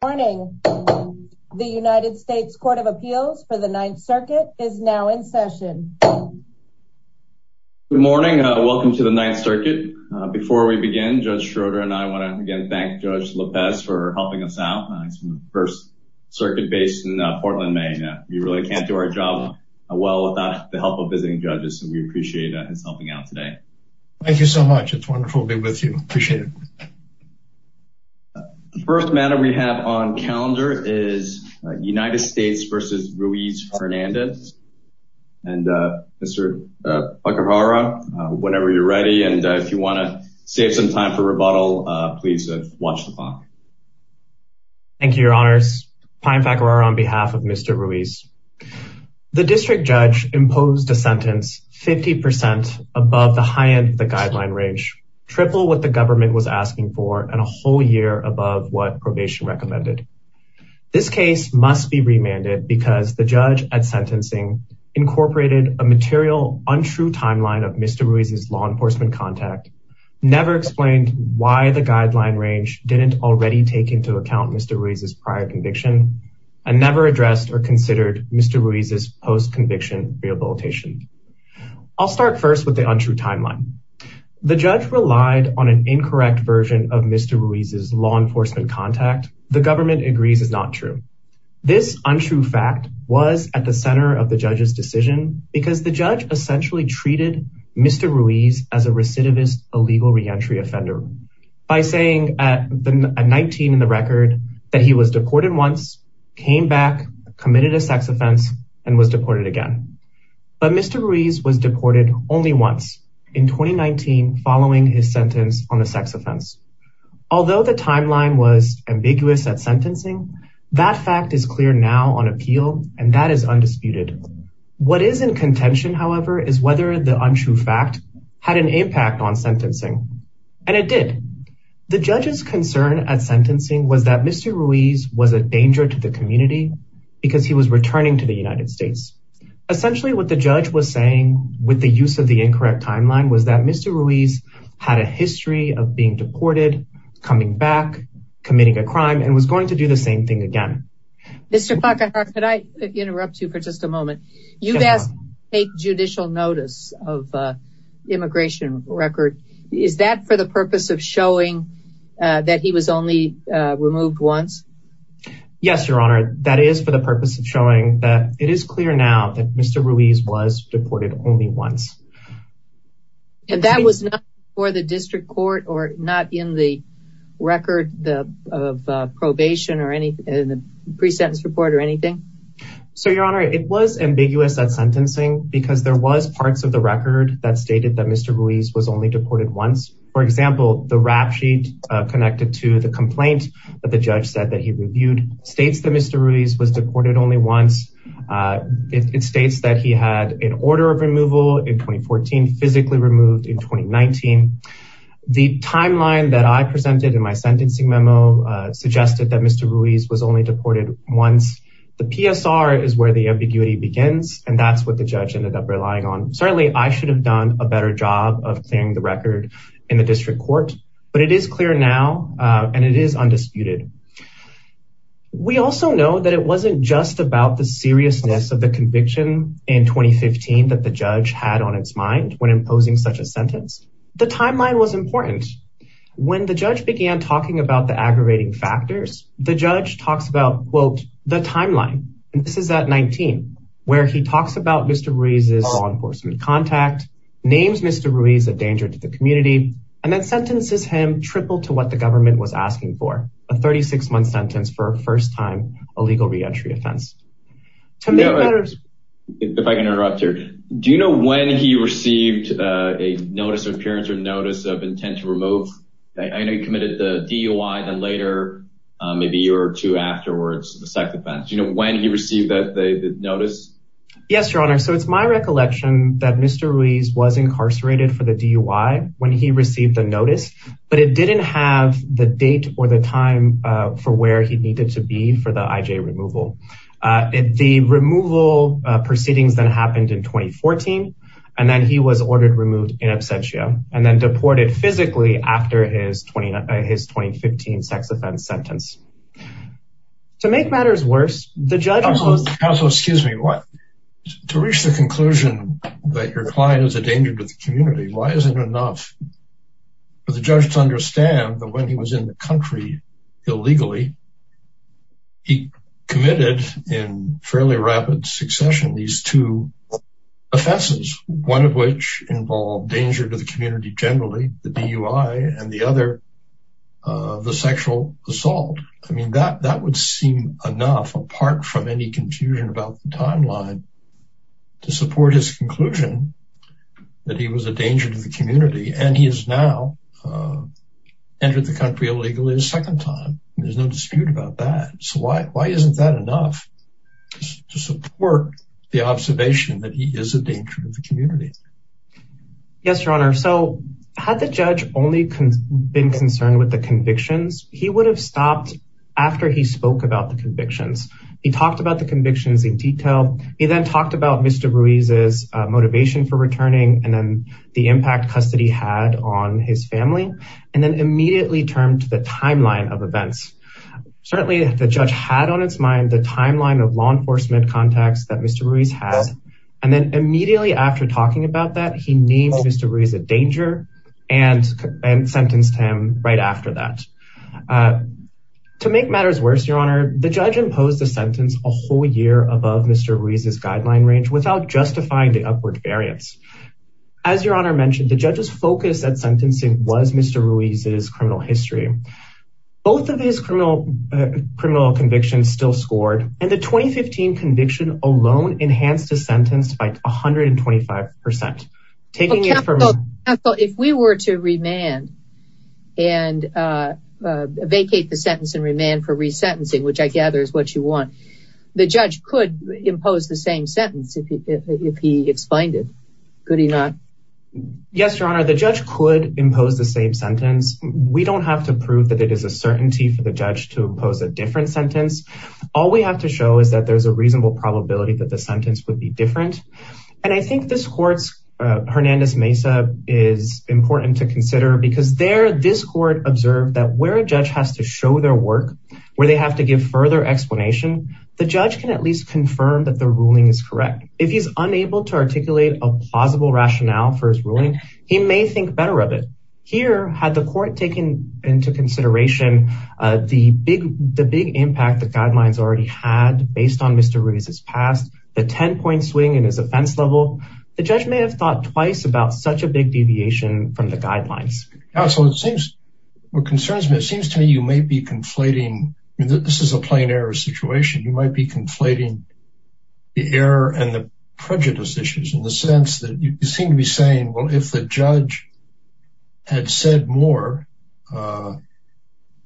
Good morning. The United States Court of Appeals for the Ninth Circuit is now in session. Good morning. Welcome to the Ninth Circuit. Before we begin, Judge Schroeder and I want to again thank Judge Lopez for helping us out. It's the first circuit based in Portland, Maine. We really can't do our job well without the help of visiting judges, and we appreciate his helping out today. Thank you so much. It's wonderful to be with you. Appreciate it. The first matter we have on calendar is United States v. Ruiz-Hernandez, and Mr. Pacara, whenever you're ready, and if you want to save some time for rebuttal, please watch the clock. Thank you, Your Honors. Pine Pacara on behalf of Mr. Ruiz. The district judge imposed a sentence 50 percent above the high end of the guideline range, triple what the government was asking for, and a whole year above what probation recommended. This case must be remanded because the judge at sentencing incorporated a material untrue timeline of Mr. Ruiz's law enforcement contact, never explained why the guideline range didn't already take into account Mr. Ruiz's prior conviction, and never addressed or considered Mr. Ruiz's post-conviction rehabilitation. I'll start first with the untrue timeline. The judge relied on an incorrect version of Mr. Ruiz's law enforcement contact. The government agrees is not true. This untrue fact was at the center of the judge's decision because the judge essentially treated Mr. Ruiz as a recidivist illegal reentry offender by saying at 19 in the record that he was deported once, came back, committed a sex offense, and was deported again. But Mr. Ruiz was deported only once in 2019 following his sentence on a sex offense. Although the timeline was ambiguous at sentencing, that fact is clear now on appeal, and that is undisputed. What is in contention, however, is whether the untrue fact had an impact on sentencing, and it did. The judge's concern at sentencing was that Mr. Ruiz was a danger to the United States. Essentially what the judge was saying with the use of the incorrect timeline was that Mr. Ruiz had a history of being deported, coming back, committing a crime, and was going to do the same thing again. Mr. Puckahart, could I interrupt you for just a moment? You've asked to take judicial notice of immigration record. Is that for the purpose of is clear now that Mr. Ruiz was deported only once. And that was not for the district court, or not in the record of probation, or in the pre-sentence report, or anything? So, Your Honor, it was ambiguous at sentencing because there was parts of the record that stated that Mr. Ruiz was only deported once. For example, the rap sheet connected to the complaint that the it states that he had an order of removal in 2014, physically removed in 2019. The timeline that I presented in my sentencing memo suggested that Mr. Ruiz was only deported once. The PSR is where the ambiguity begins, and that's what the judge ended up relying on. Certainly, I should have done a better job of clearing the record in the district court, but it is clear now, and it is undisputed. We also know that it wasn't just about the seriousness of the conviction in 2015 that the judge had on its mind when imposing such a sentence. The timeline was important. When the judge began talking about the aggravating factors, the judge talks about, quote, the timeline, and this is at 19, where he talks about Mr. Ruiz's law enforcement contact, names Mr. Ruiz a danger to the community, and then sentences him triple to what the government was asking for, a 36-month sentence for a first-time illegal reentry offense. Now, if I can interrupt here, do you know when he received a notice of appearance or notice of intent to remove? I know he committed the DUI, and then later, maybe a year or two afterwards, the second offense. Do you know when he received the notice? Yes, Your Honor, so it's my recollection that Mr. Ruiz was incarcerated for the DUI when he received the notice, but it didn't have the date or the time for where he needed to be for the IJ removal. The removal proceedings then happened in 2014, and then he was ordered removed in absentia and then deported physically after his 2015 sex offense sentence. To make matters worse, the judge Counsel, excuse me. To reach the conclusion that your client is a danger to the community, why isn't it enough for the judge to understand that when he was in the country illegally, he committed in fairly rapid succession these two offenses, one of which involved danger to the community generally, the DUI, and the other, the sexual assault. I mean, that would seem enough apart from any confusion about the timeline to support his conclusion that he was a danger to the community. Yes, Your Honor, so had the judge only been concerned with the convictions, he would have stopped after he spoke about the convictions. He talked about the convictions in detail. He then talked about Mr. Ruiz's motivation for returning and then the impact custody had on his family, and then immediately turned to the timeline of events. Certainly, the judge had on its mind the timeline of law enforcement contacts that Mr. Ruiz had, and then immediately after talking about that, he named Mr. Ruiz a danger and sentenced him right after that. To make matters worse, Your Honor, the judge imposed a sentence a whole year above Mr. Ruiz's guideline range without justifying the upward variance. As Your Honor mentioned, the judge's focus at sentencing was Mr. Ruiz's criminal history. Both of his criminal convictions still scored, and the 2015 conviction alone enhanced his sentence by 125%. If we were to remand and vacate the sentence and remand for if he gets fined, could he not? Yes, Your Honor, the judge could impose the same sentence. We don't have to prove that it is a certainty for the judge to impose a different sentence. All we have to show is that there's a reasonable probability that the sentence would be different, and I think this court's Hernandez Mesa is important to consider because there this court observed that where a judge has to show their work, where they have to give further explanation, the judge can at least confirm that the ruling is correct. If he's unable to articulate a plausible rationale for his ruling, he may think better of it. Here, had the court taken into consideration the big impact the guidelines already had based on Mr. Ruiz's past, the 10-point swing in his offense level, the judge may have thought twice about such a big deviation from the guidelines. So, it seems, what concerns me, it seems to me you may be conflating, and this is a plain error situation, you might be conflating the error and the prejudice issues in the sense that you seem to be saying, well, if the judge had said more,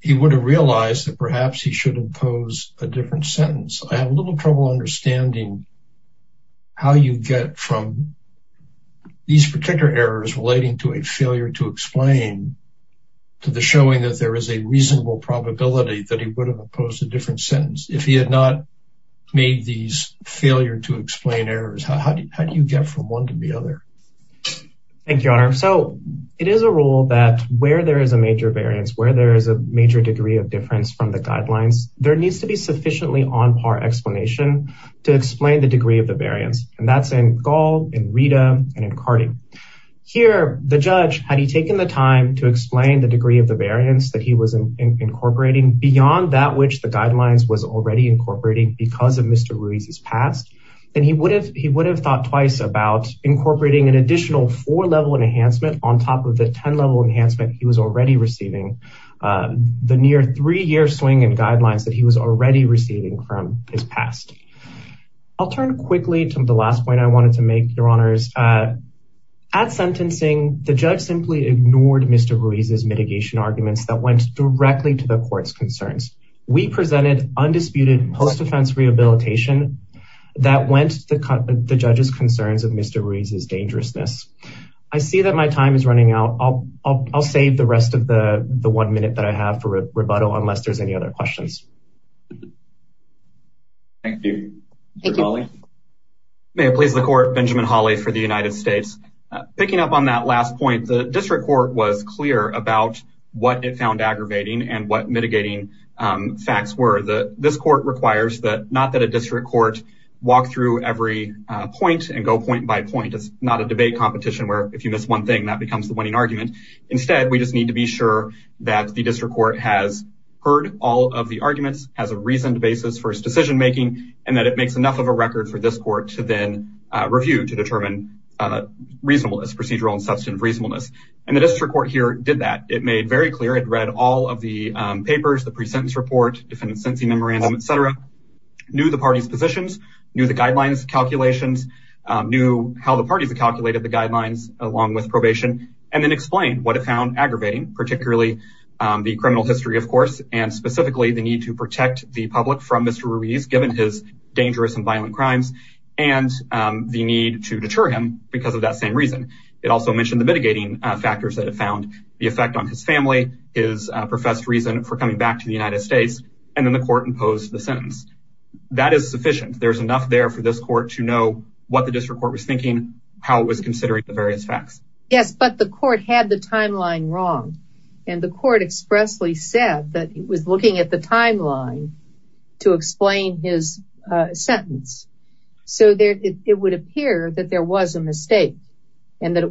he would have realized that perhaps he should impose a different sentence. I have a little trouble understanding how you get from these particular errors relating to a failure to explain to the showing that there is a reasonable probability that he would have imposed a different sentence. If he had not made these failure to explain errors, how do you get from one to the other? Thank you, Your Honor. So, it is a rule that where there is a major variance, where there is a major degree of difference from the guidelines, there needs to be sufficiently on-par explanation to explain the degree of the variance, and that's in Gall, in Rita, and in Cardi. Here, the judge, had he taken the time to explain the degree of the variance that he was incorporating beyond that which the guidelines was already incorporating because of Mr. Ruiz's past, then he would have thought twice about incorporating an additional four-level enhancement on top of the 10-level enhancement he was already receiving. The near three-year swing guidelines that he was already receiving from his past. I'll turn quickly to the last point I wanted to make, Your Honors. At sentencing, the judge simply ignored Mr. Ruiz's mitigation arguments that went directly to the court's concerns. We presented undisputed post-offense rehabilitation that went to the judge's concerns of Mr. Ruiz's dangerousness. I see that my time is running out. I'll save the rest of the one minute that I have for rebuttal unless there's any other questions. Thank you, Mr. Hawley. May it please the court, Benjamin Hawley for the United States. Picking up on that last point, the district court was clear about what it found aggravating and what mitigating facts were. This court requires that not that a district court walk through every point and go point by point. It's not a debate competition where if you miss one thing that becomes the winning argument. Instead, we just need to be sure that the district court has heard all of the arguments, has a reasoned basis for its decision making, and that it makes enough of a record for this court to then review to determine reasonableness, procedural and substantive reasonableness. And the district court here did that. It made very clear. It read all of the papers, the pre-sentence report, defendant's sentencing memorandum, etc. Knew the party's positions, knew the guidelines calculations, knew how the parties calculated the guidelines along with probation, and then explained what it found aggravating, particularly the criminal history, of course, and specifically the need to protect the public from Mr. Ruiz given his dangerous and violent crimes and the need to deter him because of that same reason. It also mentioned the mitigating factors that it found, the effect on his family, his professed reason for coming back to the United States, and then the court imposed the sentence. That is sufficient. There's enough there for this court to know what the district court was thinking, how it was considering the various facts. Yes, but the court had the timeline wrong, and the court expressly said that it was looking at the timeline to explain his sentence. So it would appear that there was a mistake and that it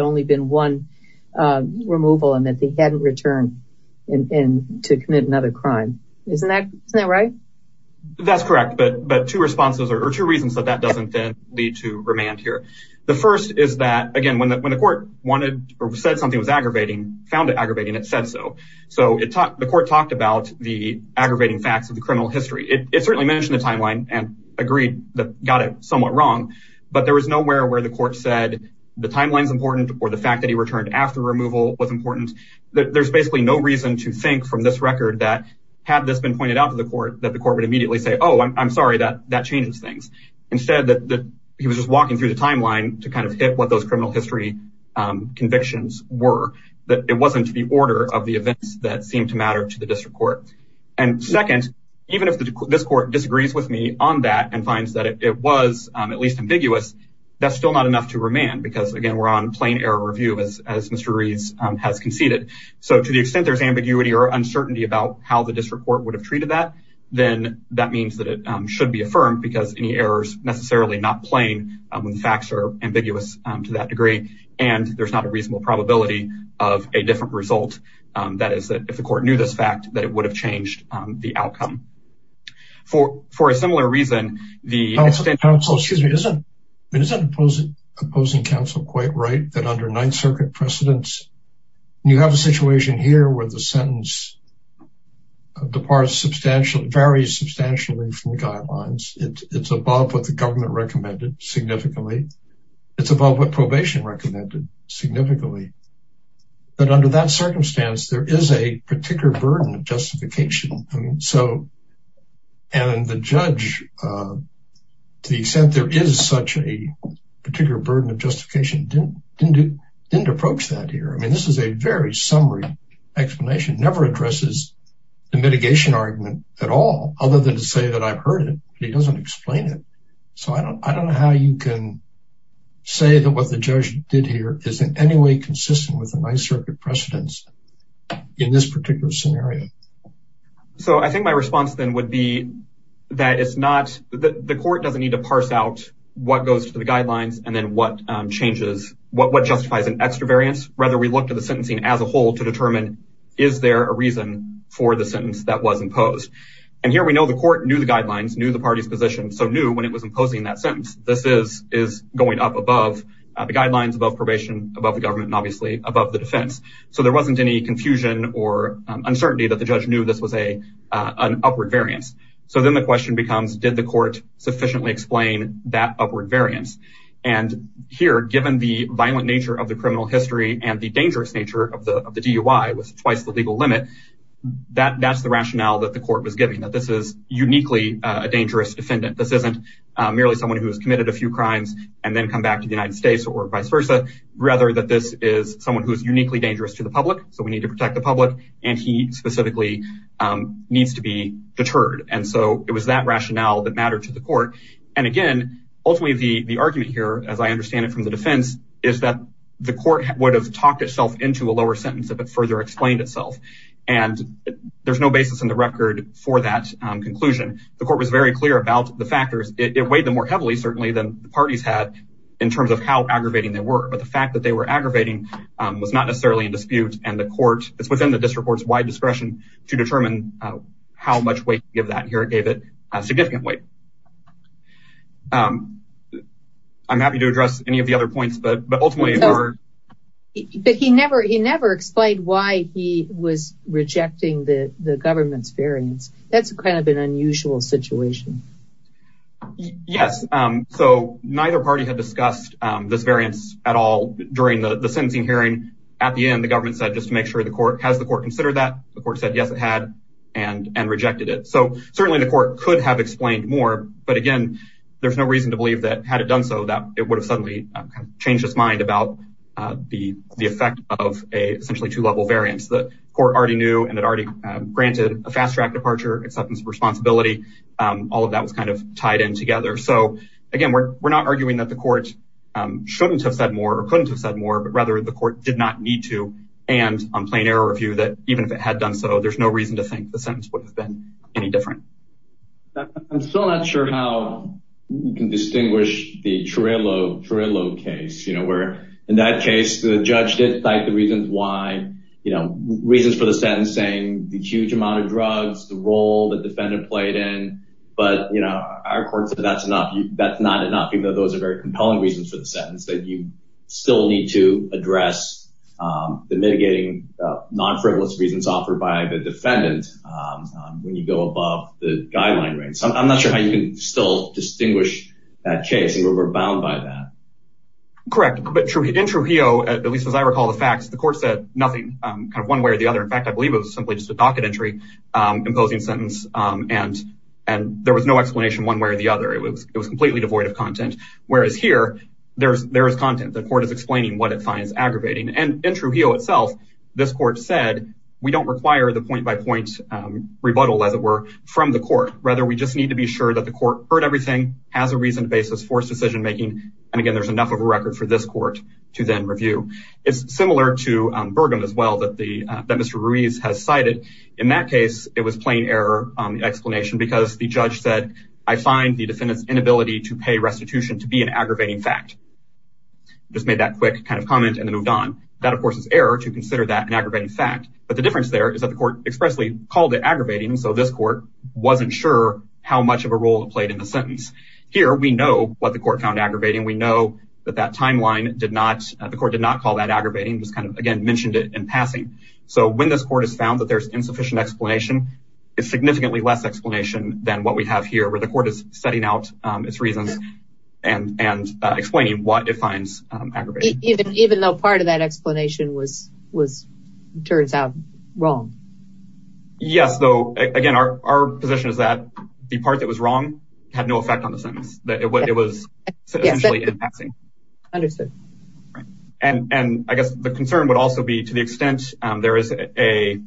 only been one removal and that he hadn't returned to commit another crime. Isn't that right? That's correct, but two responses or two reasons that that doesn't then lead to remand here. The first is that, again, when the court wanted or said something was aggravating, found it aggravating, it said so. So the court talked about the aggravating facts of the criminal history. It certainly mentioned the timeline and agreed that got it somewhat wrong, but there was nowhere where the court said the timeline is important or the fact that he returned after removal was important. There's basically no reason to think from this record that had this been pointed out to the court that the court would immediately say, oh, I'm sorry, that changes things. Instead, he was just walking through the timeline to kind of hit what those criminal history convictions were, that it wasn't the order of the events that seemed to matter to the district court. And second, even if this court disagrees with me on that and finds that it was at least ambiguous, that's still not enough to remand because, again, we're on plain error review as Mr. Reeds has conceded. So to the extent there's ambiguity or uncertainty about how the district court would have treated that, then that means that it should be affirmed because any error is necessarily not plain when the facts are ambiguous to that degree and there's not a reasonable probability of a different result. That is that if the court knew this fact, that it would have changed the outcome. For a similar reason, the extended counsel, excuse me, it isn't opposing counsel quite right that under Ninth Circuit precedents, you have a situation here where the sentence departs substantially, varies substantially from the guidelines. It's above what the government recommended significantly. It's above what probation recommended significantly. But under that to the extent there is such a particular burden of justification, it didn't approach that here. I mean, this is a very summary explanation. It never addresses the mitigation argument at all other than to say that I've heard it, but he doesn't explain it. So I don't know how you can say that what the judge did here is in any way consistent with the Ninth Circuit precedents in this particular scenario. So I think my response then would be that the court doesn't need to parse out what goes to the guidelines and then what justifies an extra variance. Rather, we look to the sentencing as a whole to determine is there a reason for the sentence that was imposed. And here we know the court knew the guidelines, knew the party's position, so knew when it was imposing that sentence. This is going up above the guidelines, above probation, above the government, and obviously above the defense. So there wasn't any confusion or uncertainty that the judge knew this was an upward variance. So then the question becomes, did the court sufficiently explain that upward variance? And here, given the violent nature of the criminal history and the dangerous nature of the DUI was twice the legal limit, that's the rationale that the court was giving, that this is uniquely a dangerous defendant. This isn't merely someone who has committed a few crimes and then come back to the United States or vice versa. Rather, that this is someone who is uniquely dangerous to the public, so we need to protect the public, and he specifically needs to be deterred. And so it was that rationale that mattered to the court. And again, ultimately, the argument here, as I understand it from the defense, is that the court would have talked itself into a lower sentence if it further explained itself. And there's no basis in the record for that conclusion. The court was very clear about the factors. It weighed them more heavily, certainly, than the parties had in terms of how aggravating they were. But the fact that they were aggravating was not necessarily in dispute, and the court, it's within the district court's wide discretion to determine how much weight to give that. Here, it gave it a significant weight. I'm happy to address any of the other points, but ultimately... But he never explained why he was rejecting the government's variance. That's kind of an during the sentencing hearing. At the end, the government said, just to make sure the court... Has the court considered that? The court said, yes, it had, and rejected it. So certainly, the court could have explained more. But again, there's no reason to believe that, had it done so, that it would have suddenly changed its mind about the effect of a essentially two-level variance. The court already knew, and it already granted a fast-track departure, acceptance of responsibility. All of that was kind of tied in together. So again, we're not arguing that the court shouldn't have said more, or couldn't have said more, but rather, the court did not need to. And on plain error review, that even if it had done so, there's no reason to think the sentence would have been any different. I'm still not sure how you can distinguish the Torello case, where in that case, the judge did cite the reasons why, reasons for the sentencing, the huge amount of drugs, the role the defendant played in. But our court said, that's not enough, even though those are very compelling reasons for the sentence, that you still need to address the mitigating non-frivolous reasons offered by the defendant when you go above the guideline range. So I'm not sure how you can still distinguish that case, and we're bound by that. Correct. But in Trujillo, at least as I recall the facts, the court said nothing, kind of one way or the other. In fact, I believe it was simply just a docket entry, imposing sentence, and there was no explanation one way or the other. It was completely devoid of content. Whereas here, there is content. The court is explaining what it finds aggravating. And in Trujillo itself, this court said, we don't require the point-by-point rebuttal, as it were, from the court. Rather, we just need to be sure that the court heard everything, has a reason to base this forced decision-making, and again, there's enough of a record for this In that case, it was plain error on the explanation because the judge said, I find the defendant's inability to pay restitution to be an aggravating fact. Just made that quick kind of comment and then moved on. That, of course, is error to consider that an aggravating fact. But the difference there is that the court expressly called it aggravating, so this court wasn't sure how much of a role it played in the sentence. Here, we know what the court found aggravating. We know that that timeline did not, the court did not call that aggravating, just kind of, again, mentioned it in passing. So when this court found that there's insufficient explanation, it's significantly less explanation than what we have here, where the court is setting out its reasons and explaining what it finds aggravating. Even though part of that explanation was, turns out, wrong. Yes, though, again, our position is that the part that was wrong had no effect on the sentence. It was essentially in passing. Understood. And I guess the concern would also be, to the extent there is a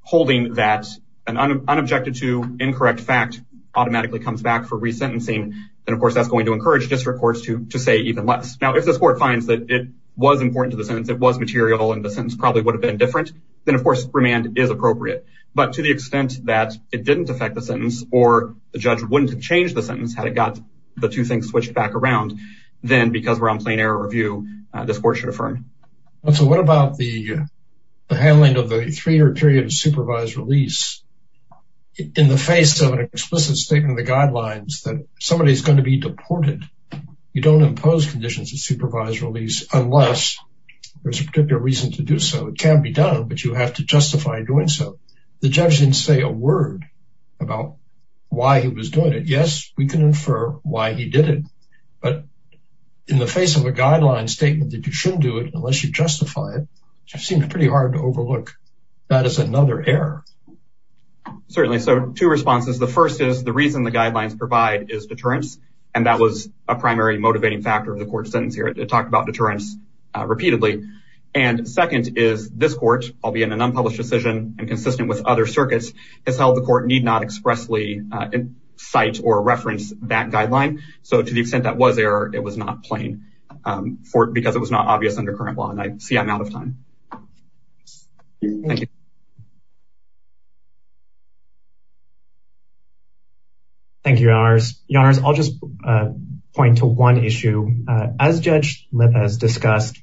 holding that an unobjected to incorrect fact automatically comes back for resentencing, then, of course, that's going to encourage district courts to say even less. Now, if this court finds that it was important to the sentence, it was material, and the sentence probably would have been different, then, of course, remand is appropriate. But to the extent that it didn't affect the sentence, or the judge wouldn't have changed the sentence had it got the two things switched back around, then, because we're on plain error review, this court should affirm. And so what about the handling of the three-year period of supervised release in the face of an explicit statement of the guidelines that somebody is going to be deported? You don't impose conditions of supervised release unless there's a particular reason to do so. It can be done, but you have to justify doing so. The judge didn't say a word about why he was doing it. Yes, we can infer why he did it, but in the face of a guideline statement that you shouldn't do it unless you justify it, which seems pretty hard to overlook, that is another error. Certainly. So two responses. The first is the reason the guidelines provide is deterrence, and that was a primary motivating factor of the court's sentence here. It talked about deterrence repeatedly. And second is this court, albeit in an unpublished decision and consistent with other sites or reference that guideline. So to the extent that was there, it was not plain because it was not obvious under current law. And I see I'm out of time. Thank you, Your Honors. Your Honors, I'll just point to one issue. As Judge Lipp has discussed,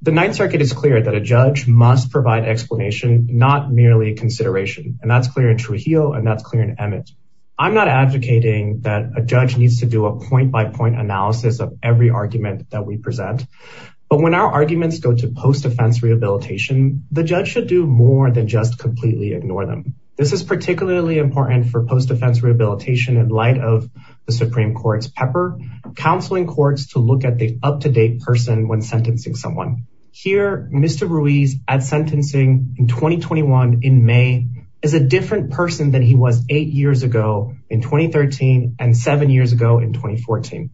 the Ninth Circuit is clear that a judge must provide explanation, not merely consideration. And that's clear in Trujillo and that's clear in Emmett. I'm not advocating that a judge needs to do a point-by-point analysis of every argument that we present. But when our arguments go to post-defense rehabilitation, the judge should do more than just completely ignore them. This is particularly important for post-defense rehabilitation in light of the Supreme Court's pepper, counseling courts to look at the up-to-date person when sentencing someone. Here, Mr. Ruiz at sentencing in 2021 in May is a different person than he was eight years ago in 2013 and seven years ago in 2014.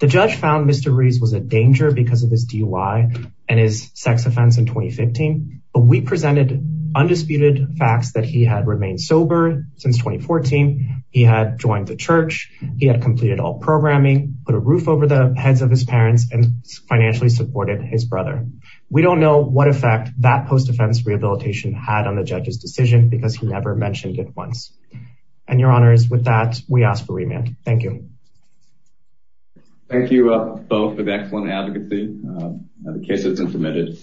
The judge found Mr. Ruiz was a danger because of his DUI and his sex offense in 2015. But we presented undisputed facts that he had remained sober since 2014. He had joined the church. He had completed all programming, put a roof over the heads of his parents and financially supported his brother. We don't know what effect that post-defense rehabilitation had on the judge's decision because he never mentioned it once. And your honors, with that, we ask for remand. Thank you. Thank you both for the excellent advocacy. The case has been permitted.